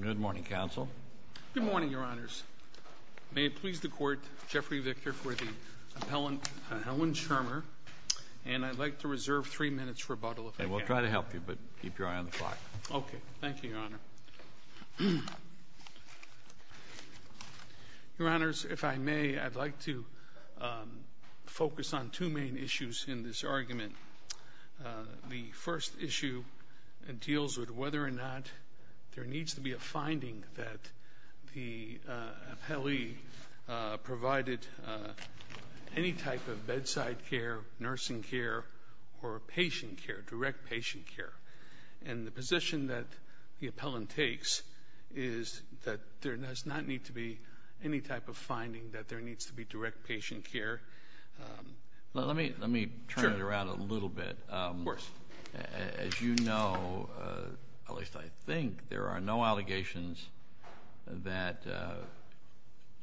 Good morning, Counsel. Good morning, Your Honors. May it please the Court, Jeffrey Victor for the appellant, Helen Schirmer, and I'd like to reserve three minutes for rebuttal. We'll try to help you, but keep your eye on the clock. Okay, thank you, Your Honor. Your Honors, if I may, I'd like to focus on two main issues in this case. There needs to be a finding that the appellee provided any type of bedside care, nursing care, or patient care, direct patient care. And the position that the appellant takes is that there does not need to be any type of finding that there needs to be direct patient care. Let me turn it around a little bit. Of course. As you know, at least I think, there are no allegations that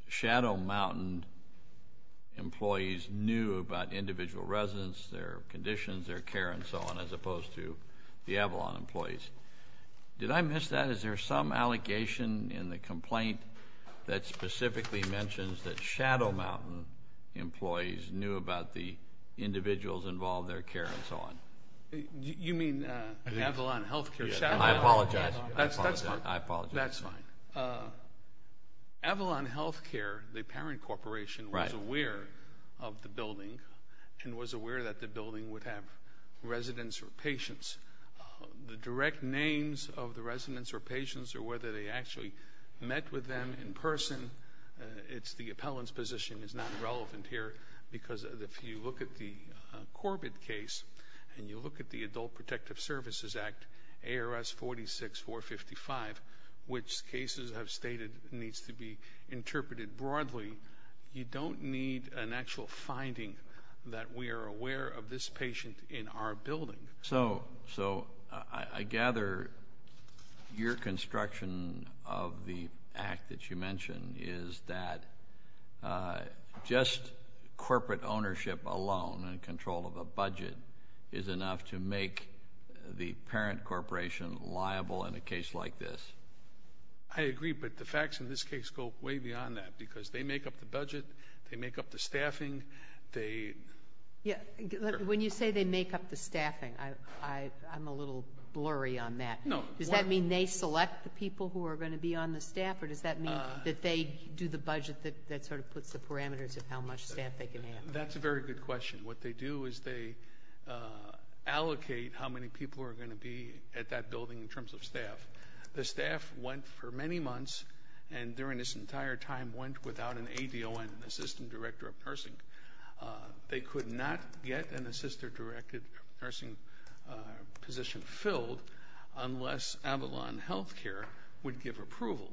Shadow Mountain employees knew about individual residents, their conditions, their care, and so on, as opposed to the Avalon employees. Did I miss that? Is there some allegation in the complaint that specifically mentions that Shadow Mountain employees knew about the individuals involved, their care, and so on? You mean Avalon Health Care? I apologize. That's fine. Avalon Health Care, the parent corporation, was aware of the building and was aware that the building would have residents or patients. The direct names of the residents or patients or whether they actually met with them in person, it's the appellant's position, is not relevant here, because if you look at the Corbett case and you look at the Adult Protective Services Act, ARS 46455, which cases have stated needs to be interpreted broadly, you don't need an actual finding that we are aware of this patient in our building. So I gather your construction of the act that you mentioned is that just corporate ownership alone and control of a budget is enough to make the parent corporation liable in a case like this. I agree, but the facts in this case go way beyond that, because they make up the budget, they make up the staffing. When you say they make up the staffing, I'm a little blurry on that. Does that mean they select the people who are going to be on the staff, or does that mean that they do the budget that sort of puts the parameters of how much staff they can have? That's a very good question. What they do is they allocate how many people are going to be at that building in terms of staff. The staff went for many months and during this entire time went without an ADON, Assistant Director of Nursing. They could not get an Assistant Director of Nursing position filled unless Avalon Healthcare would give approval.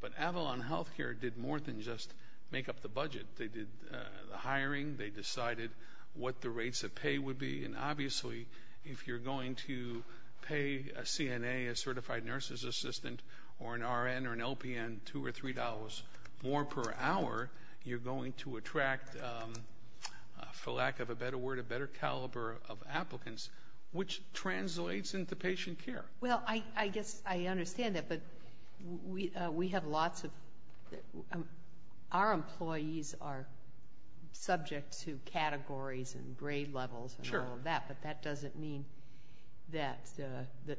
But Avalon Healthcare did more than just make up the budget. They did the hiring, they decided what the rates of pay would be, and obviously if you're going to pay a CNA, a Certified Nurses Assistant, or an RN, or an LPN, two or three dollars more per hour, you're going to attract, for lack of a better word, a better caliber of applicants, which translates into patient care. Well, I guess I understand that, but we have lots of, our employees are subject to categories and grade levels and all of that, but that doesn't mean that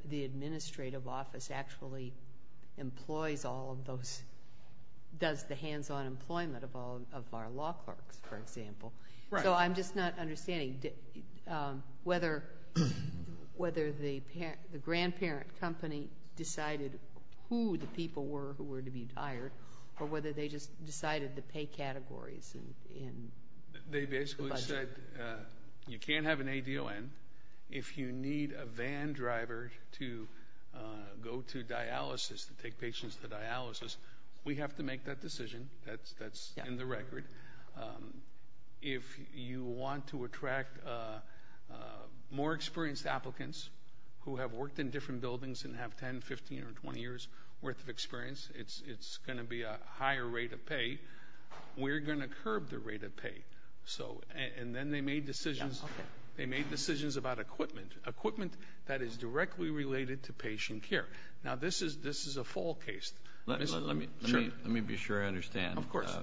the administrative office actually employs all of those, does the hands-on employment of all of our law clerks, for example. So I'm just not understanding whether the grandparent company decided who the people were who were to be hired, or whether they just decided the pay categories in the budget. You can't have an ADON. If you need a van driver to go to dialysis, to take patients to dialysis, we have to make that decision. That's in the record. If you want to attract more experienced applicants who have worked in different buildings and have 10, 15, or 20 years worth of experience, it's going to be a higher rate of pay. We're going to curb the rate of pay, and then they made decisions about equipment. Equipment that is directly related to patient care. Now, this is a full case. Let me be sure I understand. Of course.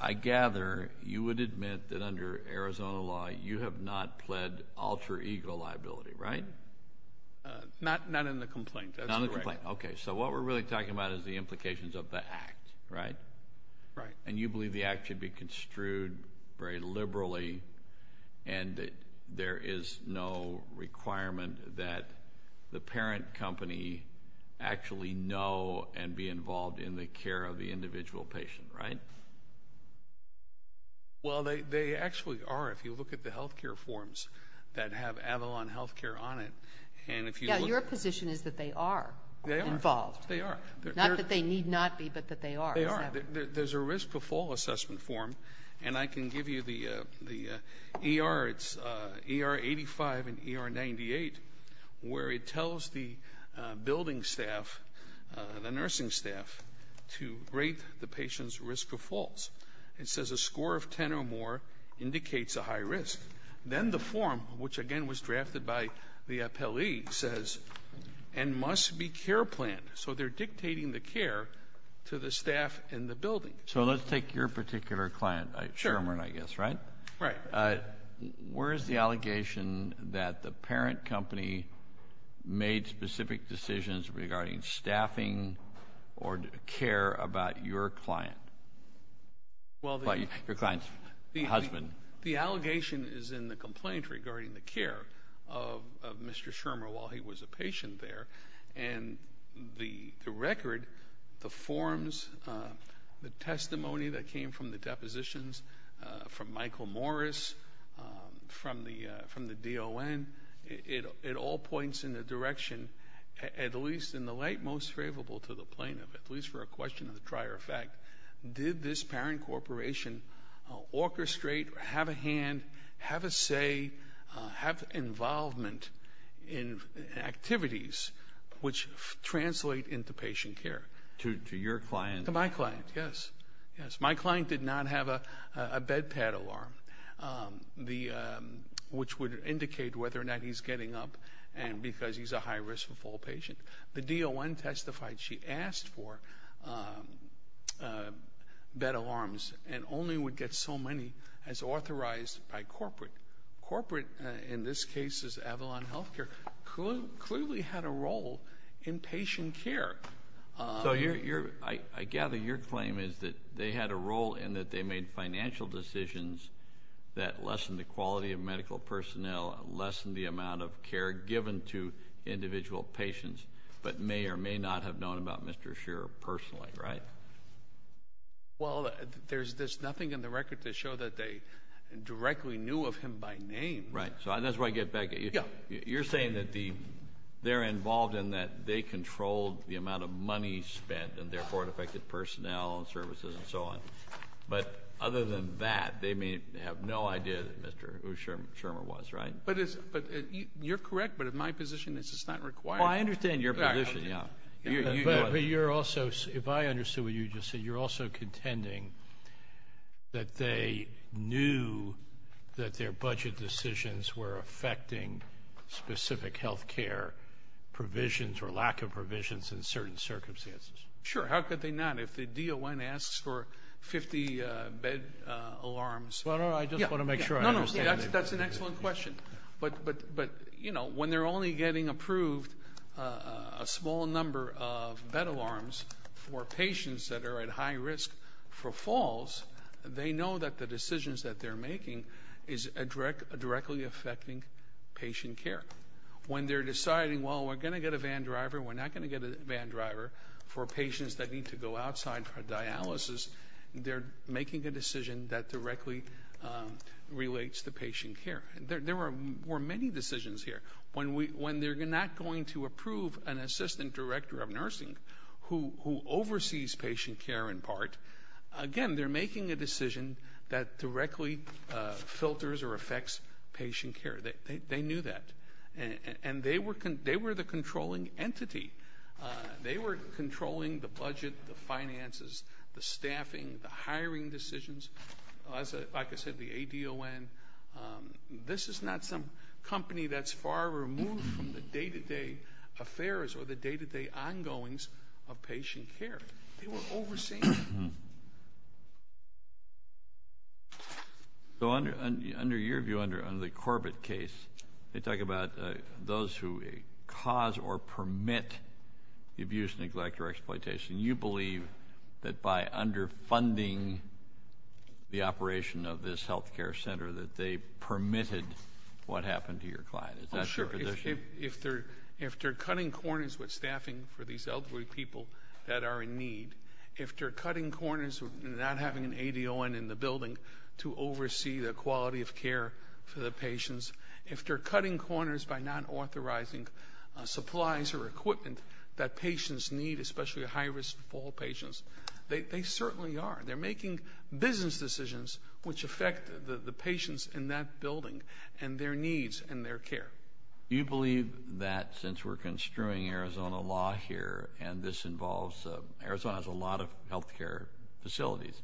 I gather you would admit that under Arizona law, you have not pled alter ego liability, right? Not in the complaint. Not in the complaint. Okay. So what we're really talking about is the implications of the act, right? Right. And you believe the act should be construed very liberally, and that there is no requirement that the parent company actually know and be involved in the care of the individual patient, right? Well, they actually are. If you look at the health care forms that have Avalon Health Care on it, and if you look at Yeah, your position is that they are involved. They are. Not that they need not be, but that they are. They are. There's a risk for fall assessment form, and I can give you the ER. It's ER85 and ER98, where it tells the building staff, the nursing staff, to rate the patient's risk of falls. It says a score of 10 or more indicates a high risk. Then the form, which again was drafted by the appellee, says, and must be care planned. So they're dictating the care to the staff in the building. So let's take your particular client, Sherman, I guess, right? Right. Where is the allegation that the parent company made specific decisions regarding staffing or care about your client? Your client's husband. The allegation is in the complaint regarding the care of Mr. Sherman while he was a patient there, and the record, the forms, the testimony that came from the depositions from Michael Morris, from the DLN, it all points in the direction, at least in the light most favorable to the plaintiff, at least for a question of the prior effect, did this parent corporation orchestrate, have a hand, have a say, have involvement in activities which translate into patient care? To your client? To my client, yes. My client did not have a bed pad alarm, which would indicate whether or not he's getting up, and because he's a high risk for fall patient. The DLN testified she asked for bed alarms and only would get so many as authorized by corporate. Corporate, in this case, is Avalon Healthcare, clearly had a role in patient care. So I gather your claim is that they had a role in that they made financial decisions that lessened the quality of medical personnel, lessened the amount of care given to individual patients, but may or may not have known about Mr. Sher personally, right? Well, there's nothing in the record to show that they directly knew of him by name. Right. So that's where I get back at you. You're saying that they're involved in that they controlled the amount of money spent and therefore it affected personnel and services and so on. But other than that, they may have no idea who Mr. Shermer was, right? You're correct, but in my position this is not required. Oh, I understand your position, yeah. But you're also, if I understood what you just said, you're also contending that they knew that their budget decisions were affecting specific healthcare provisions or lack thereof. Lack of provisions in certain circumstances. Sure, how could they not? If the DON asks for 50 bed alarms... Well, no, no, I just want to make sure I understand what you're saying. That's an excellent question. But when they're only getting approved a small number of bed alarms for patients that are at high risk for falls, they know that the decisions that they're making is directly affecting patient care. When they're deciding, well, we're going to get a van driver, we're not going to get a van driver for patients that need to go outside for dialysis, they're making a decision that directly relates to patient care. There were many decisions here. When they're not going to approve an assistant director of nursing who oversees patient care in part, again, they're making a decision that directly filters or affects patient care. They knew that. And they were the controlling entity. They were controlling the budget, the finances, the staffing, the hiring decisions. Like I said, the ADON. This is not some company that's far removed from the day-to-day affairs or the day-to-day ongoings of patient care. They were overseeing it. So under your view, under the Corbett case, they talk about those who cause or permit abuse, neglect, or exploitation. You believe that by underfunding the operation of this health care center that they permitted what happened to your client. Is that your position? Oh, sure. If they're cutting corners with staffing for these elderly people that are in need, if they're cutting corners with not having an ADON in the building to oversee the quality of care for the patients, if they're cutting corners by not authorizing supplies or equipment that patients need, especially high-risk fall patients, they certainly are. They're making business decisions which affect the patients in that building and their needs and their care. You believe that since we're construing Arizona law here, and this involves, Arizona has a lot of health care facilities,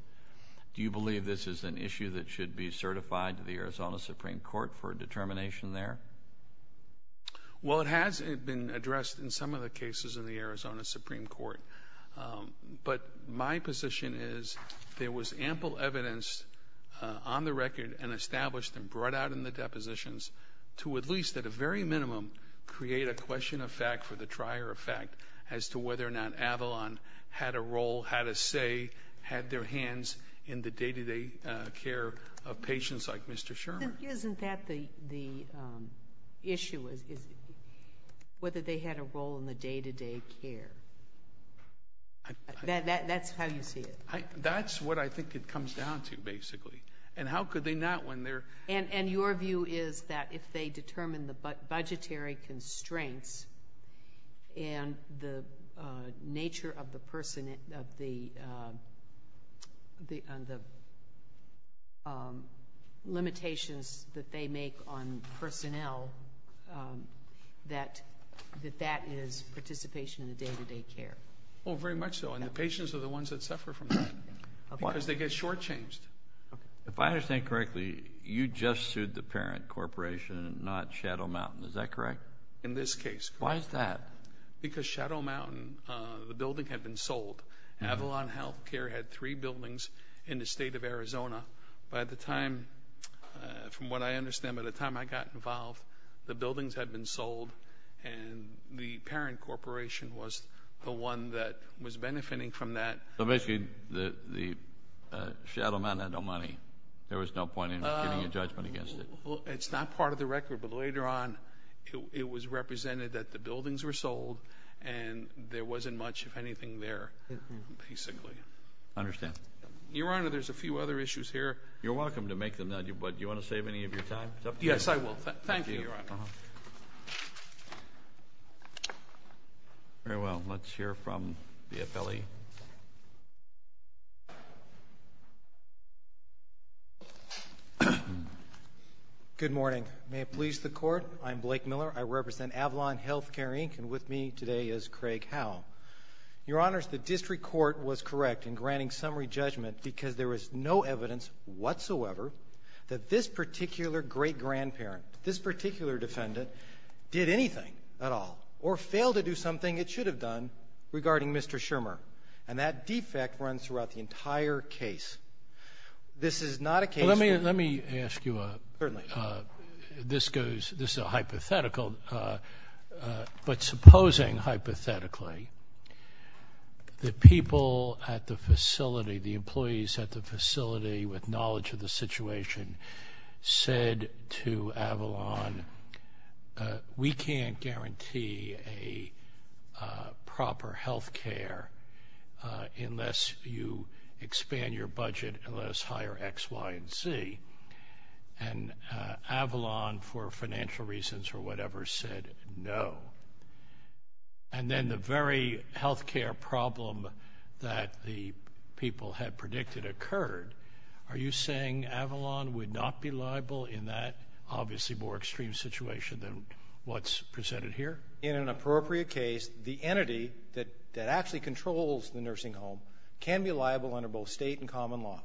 do you believe this is an issue that should be certified to the Arizona Supreme Court for determination there? Well, it has been addressed in some of the cases in the Arizona Supreme Court, but my position is there was ample evidence on the record and established and brought out in the depositions to at least, at a very minimum, create a question of fact for the trier of fact as to whether or not Avalon had a role, had a say, had their hands in the day-to-day care of patients like Mr. Sherman. Isn't that the issue, whether they had a role in the day-to-day care? That's how you see it? That's what I think it comes down to, basically. And how could they not when they're— Your view is that if they determine the budgetary constraints and the nature of the limitations that they make on personnel, that that is participation in the day-to-day care. Oh, very much so. And the patients are the ones that suffer from that because they get shortchanged. If I understand correctly, you just sued the Parent Corporation and not Shadow Mountain. Is that correct? In this case, correct. Why is that? Because Shadow Mountain, the building had been sold. Avalon Health Care had three buildings in the state of Arizona. By the time, from what I understand, by the time I got involved, the buildings had been sold and the Parent Corporation was the one that was benefiting from that. So basically, Shadow Mountain had no money. There was no point in getting a judgment against it. It's not part of the record, but later on, it was represented that the buildings were sold and there wasn't much, if anything, there, basically. I understand. Your Honor, there's a few other issues here. You're welcome to make them, but do you want to save any of your time? Yes, I will. Thank you, Your Honor. Very well. Let's hear from the appellee. Good morning. May it please the Court, I'm Blake Miller. I represent Avalon Health Care Inc., and with me today is Craig Howe. Your Honors, the District Court was correct in granting summary judgment because there is no evidence whatsoever that this particular great-grandparent, this particular defendant, did anything at all or failed to do something it should have done regarding Mr. Schirmer, and that defect runs throughout the entire case. This is not a case where— Let me ask you a— Certainly. This is a hypothetical, but supposing, hypothetically, that people at the facility, the employees at the facility, with knowledge of the situation, said to Avalon, we can't guarantee a proper health care unless you expand your budget and let us hire X, Y, and Z, and Avalon, for financial reasons or whatever, said no, and then the very health care problem that the people had predicted occurred, are you saying Avalon would not be liable in that obviously more extreme situation than what's presented here? In an appropriate case, the entity that actually controls the nursing home can be liable under both state and common law.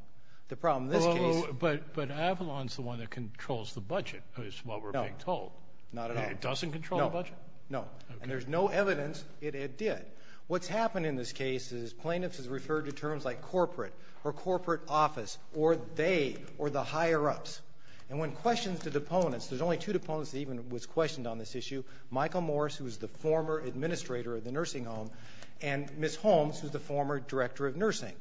The problem in this case— But Avalon's the one that controls the budget, is what we're being told. No, not at all. It doesn't control the budget? No, no. Okay. And there's no evidence that it did. What's happened in this case is plaintiffs have referred to terms like corporate, or corporate office, or they, or the higher-ups, and when questioned to deponents, there's only two deponents that even was questioned on this issue, Michael Morris, who was the former administrator of the nursing home, and Ms. Holmes, who's the former director of nursing,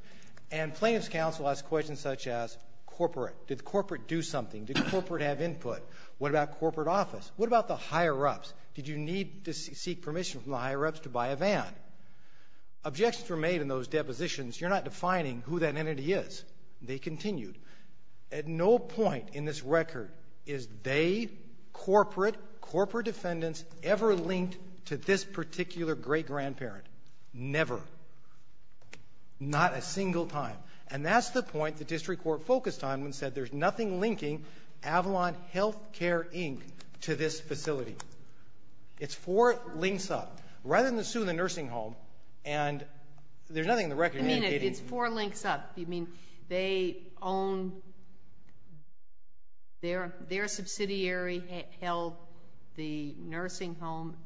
and plaintiff's counsel has questions such as corporate. Did corporate do something? Did corporate have input? What about corporate office? What about the higher-ups? Did you need to seek permission from the higher-ups to buy a van? Objections were made in those depositions. You're not defining who that entity is. They continued. At no point in this record is they, corporate, corporate defendants, ever linked to this particular great-grandparent. Never. Not a single time. And that's the point the district court focused on when it said there's nothing linking Avalon Healthcare, Inc. to this facility. It's four links up. Rather than sue the nursing home, and there's nothing in the record indicating I mean, it's four links up. You mean they own, their, their subsidiary held the nursing home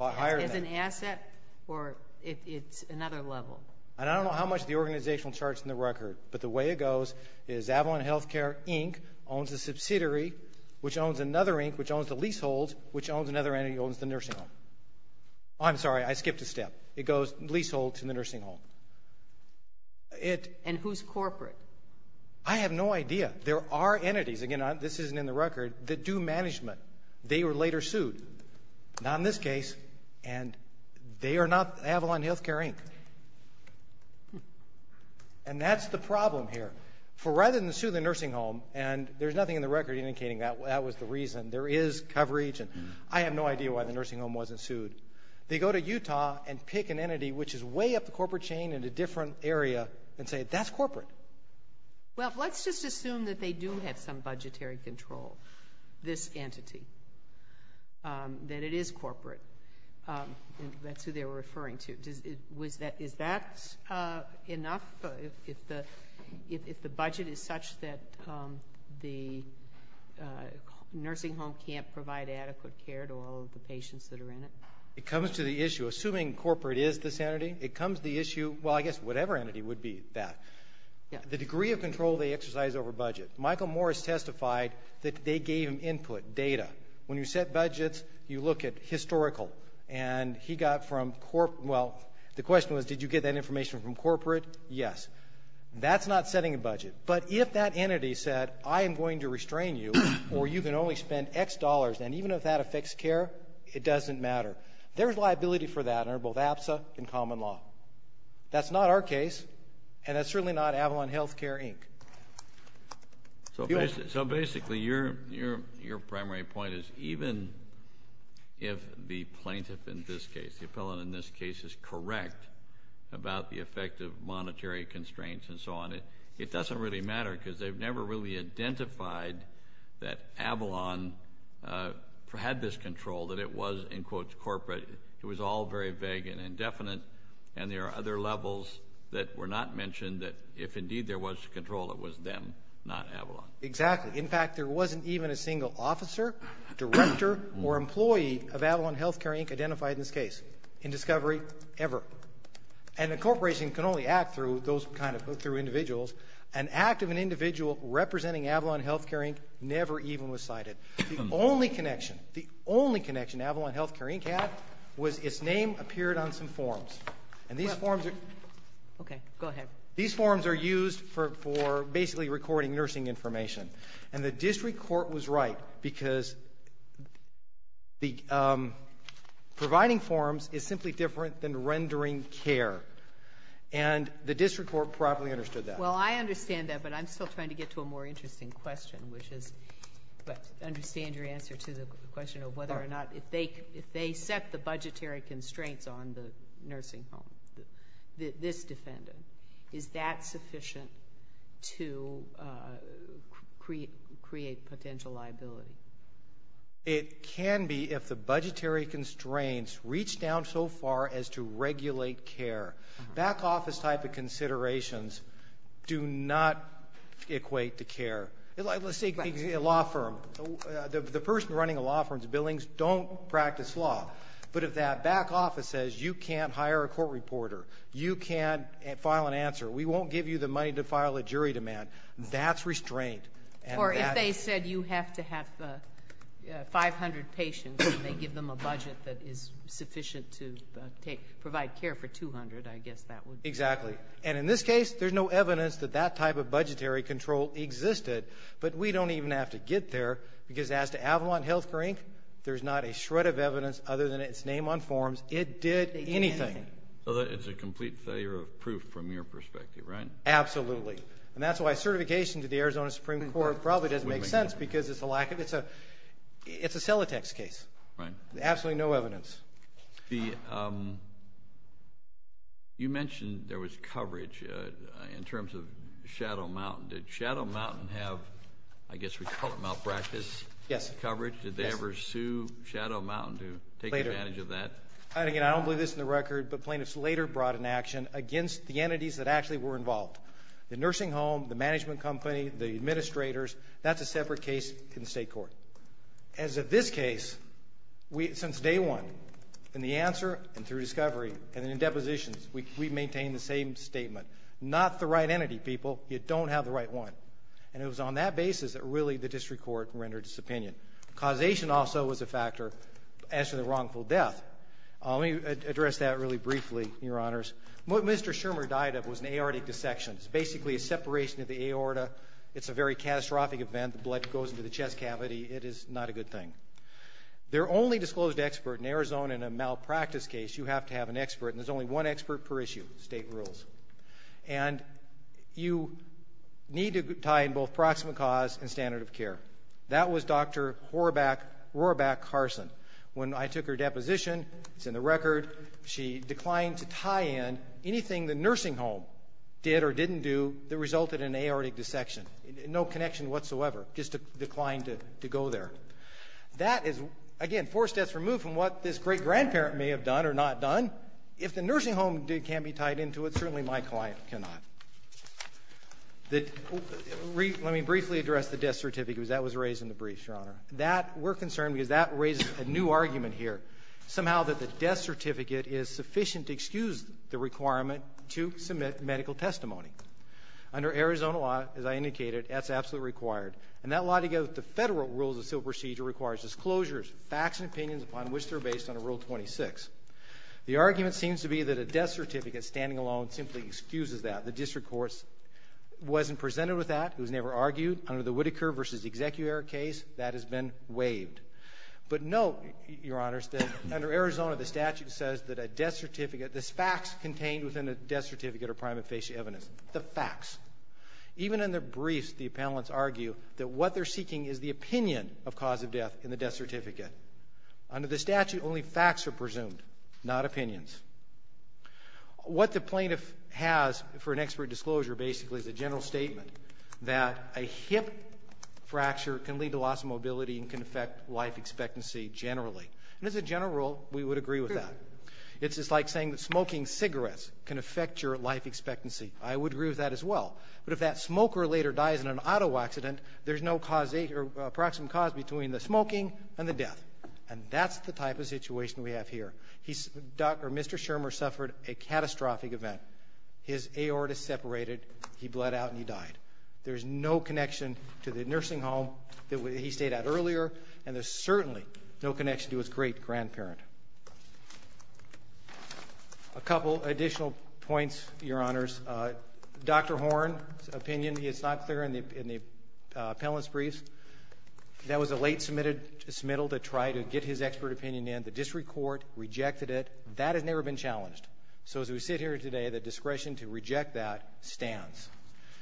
as an asset, or it's another level? And I don't know how much the organizational charts in the record, but the way it goes is Avalon Healthcare, Inc. owns a subsidiary, which owns the leaseholds, which owns another entity that owns the nursing home. I'm sorry, I skipped a step. It goes leaseholds and the nursing home. It. And who's corporate? I have no idea. There are entities, again, this isn't in the record, that do management. They were later sued. Not in this case. And they are not Avalon Healthcare, Inc. And that's the problem here. For rather than sue the nursing home, and there's nothing in the record indicating that was the reason. There is coverage, and I have no idea why the nursing home wasn't sued. They go to Utah and pick an entity which is way up the corporate chain in a different area and say, that's corporate. Well, let's just assume that they do have some budgetary control. This entity. That it is corporate. That's who they were referring to. Is that enough? If the budget is such that the nursing home can't provide adequate care to all of the patients that are in it? It comes to the issue, assuming corporate is this entity, it comes to the issue, well, I guess whatever entity would be that. The degree of control they exercise over budget. Michael Morris testified that they gave him input, data. When you set budgets, you look at historical. And he got from, well, the question was, did you get that information from corporate? Yes. That's not setting a budget. But if that entity said, I am going to restrain you, or you can only spend X dollars, and even if that affects care, it doesn't matter. There's liability for that under both APSA and common law. That's not our case, and that's certainly not Avalon Healthcare Inc. So basically, your primary point is, even if the plaintiff in this case, the appellant in this case, is correct about the effect of monetary constraints and so on, it doesn't really matter, because they've never really identified that Avalon had this control, that it was, in quotes, corporate. It was all very vague and indefinite, and there are other levels that were not mentioned, that if indeed there was control, it was them, not Avalon. Exactly. In fact, there wasn't even a single officer, director, or employee of Avalon Healthcare Inc. identified in this case, in discovery, ever. And a corporation can only act through those kind of individuals. An act of an individual representing Avalon Healthcare Inc. never even was cited. The only connection, the only connection Avalon Healthcare Inc. had was its name appeared on some forms. And these forms are used for basically recording nursing information. And the district court was right, because providing forms is simply different than rendering care. And the district court properly understood that. Well, I understand that, but I'm still trying to get to a more interesting question, which is, I understand your answer to the question of whether or not, if they set the budgetary constraints on the nursing home, this defendant, is that sufficient to, to, to make sure that they create, create potential liability? It can be if the budgetary constraints reach down so far as to regulate care. Back office type of considerations do not equate to care. Like, let's say a law firm, the person running a law firm's billings don't practice law. But if that back office says, you can't hire a court reporter, you can't file an answer, we won't give you the money to file a jury demand, that's restraint. Or if they said you have to have 500 patients and they give them a budget that is sufficient to take, provide care for 200, I guess that would be. Exactly. And in this case, there's no evidence that that type of budgetary control existed. But we don't even have to get there, because as to Avalon Health Care Inc., there's not a shred of evidence other than its name on forms. It did anything. So it's a complete failure of proof from your perspective, right? Absolutely. And that's why certification to the Arizona Supreme Court probably doesn't make sense, because it's a lack of, it's a, it's a Celotex case. Absolutely no evidence. You mentioned there was coverage in terms of Shadow Mountain. Did Shadow Mountain have, I guess we call it, malpractice coverage? Did they ever sue Shadow Mountain to take advantage of that? Again, I don't believe this in the record, but plaintiffs later brought an action against the entities that actually were involved. The nursing home, the management company, the administrators, that's a separate case in the state court. As of this case, we, since day one, in the answer and through discovery and in depositions, we've maintained the same statement. Not the right entity, people. You don't have the right one. And it was on that basis that really the district court rendered its opinion. Causation also was a factor as to the wrongful death. Let me address that really briefly, Your Honors. What Mr. Schirmer died of was an aortic dissection. It's basically a separation of the aorta. It's a very catastrophic event. The blood goes into the chest cavity. It is not a good thing. Their only disclosed expert in Arizona in a malpractice case, you have to have an expert, and there's only one expert per issue. State rules. And you need to tie in both proximate cause and standard of care. That was Dr. Horaback, Horaback Carson. When I took her deposition, it's in the record, she declined to tie in anything the nursing home did or didn't do that resulted in aortic dissection. No connection whatsoever. Just declined to go there. That is, again, four steps removed from what this great-grandparent may have done or not done. If the nursing home can't be tied into it, certainly my client cannot. Let me briefly address the death certificate because that was raised in the briefs, Your Honor. Somehow that the death certificate is sufficient to excuse the requirement to submit medical testimony. Under Arizona law, as I indicated, that's absolutely required. And that lie together with the federal rules of civil procedure requires disclosures, facts and opinions upon which they're based under Rule 26. The argument seems to be that a death certificate standing alone simply excuses that. The district courts wasn't presented with that. It was never argued. Under the Whitaker v. Executor case, that has been waived. But note, Your Honors, that under Arizona, the statute says that a death certificate, this facts contained within a death certificate are prima facie evidence. The facts. Even in the briefs, the appellants argue that what they're seeking is the opinion of cause of death in the death certificate. Under the statute, only facts are presumed, not opinions. What the plaintiff has for an expert disclosure basically is a general statement that a hip fracture can lead to loss of mobility and can affect life expectancy generally. And as a general rule, we would agree with that. It's just like saying that smoking cigarettes can affect your life expectancy. I would agree with that as well. But if that smoker later dies in an auto accident, there's no cause, approximate cause between the smoking and the death. And that's the type of situation we have here. He's, Mr. Schirmer suffered a catastrophic event. His aorta separated. He bled out and he died. There's no connection to the nursing home that he stayed at earlier and there's certainly no connection to his great grandparent. A couple additional points, your honors. Dr. Horn's opinion is not clear in the appellant's briefs. That was a late submittal to try to get his expert opinion in. The district court rejected it. That has never been challenged. So as we sit here today, the discretion to reject that stands.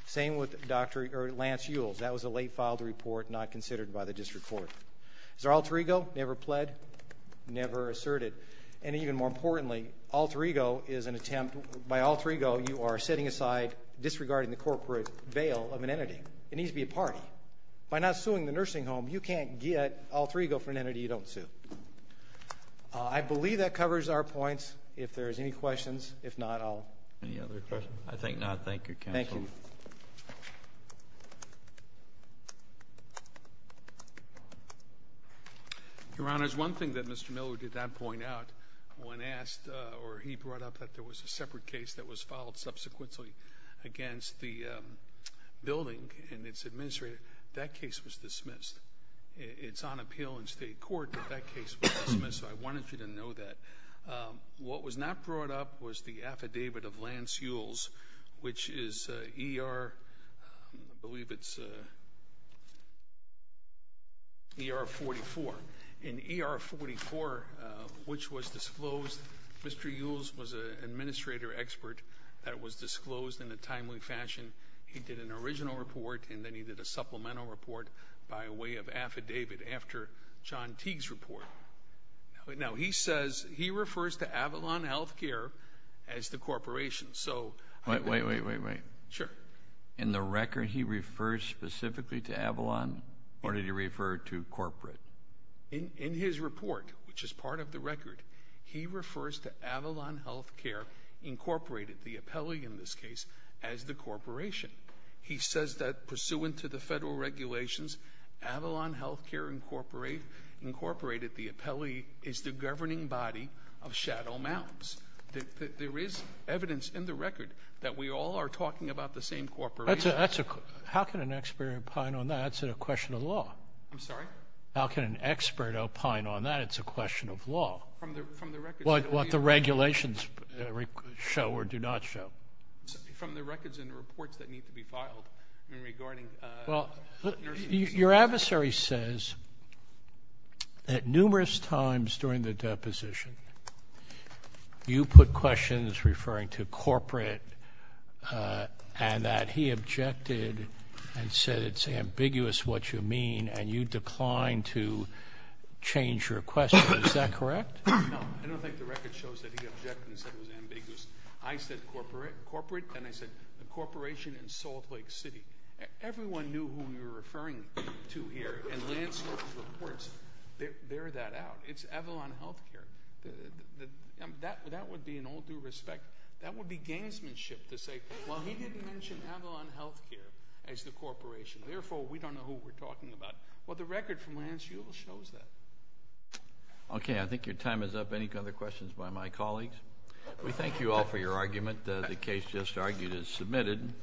Same with Dr. Lance Ewells. That was a late filed report not considered by the district court. Is there alter ego? Never pled, never asserted. And even more importantly, alter ego is an attempt, by alter ego you are setting aside disregarding the corporate veil of an entity. It needs to be a party. By not suing the nursing home, you can't get alter ego for an entity you don't sue. I believe that covers our points. If there's any questions, if not, I'll. Any other questions? I think not. Thank you, counsel. Thank you. Your honors, one thing that Mr. Miller did not point out, when asked, or he brought up that there was a separate case that was filed subsequently against the building and its administrator, that case was dismissed. It's on appeal in state court, but that case was dismissed, so I wanted you to know that. What was not brought up was the affidavit of Lance Ewells, which is ER, I believe it's ER44. In ER44, which was disclosed, Mr. Ewells was an administrator expert that was disclosed in a timely fashion. He did an original report and then he did a supplemental report by way of affidavit after John Teague's report. Now, he says, he refers to Avalon Healthcare as the corporation. Wait, wait, wait. Sure. In the record, he refers specifically to Avalon, or did he refer to corporate? In his report, which is part of the record, he refers to Avalon Healthcare Incorporated, the appellee in this case, as the corporation. He says that pursuant to the federal regulations, Avalon Healthcare Incorporated, the appellee, is the governing body of Shadow Mountains. There is evidence in the record that we all are talking about the same corporation. How can an expert opine on that? That's a question of law. I'm sorry? How can an expert opine on that? It's a question of law. What the regulations show or do not show. Your adversary says that numerous times during the deposition, you put questions referring to corporate and that he objected and said it's ambiguous what you mean and you declined to change your question. Is that correct? No. I don't think the record shows that he objected and said it was ambiguous. I said corporate and I said the corporation in Salt Lake City. Everyone knew who we were referring to here and Lance's reports bear that out. It's Avalon Healthcare. That would be an all due respect. That would be gamesmanship to say, well he didn't mention Avalon Healthcare as the corporation. Therefore, we don't know who we're talking about. Well, the record from Lance Ewell shows that. Okay. I think your time is up. Any other questions by my colleagues? We thank you all for your argument. The case just argued is submitted.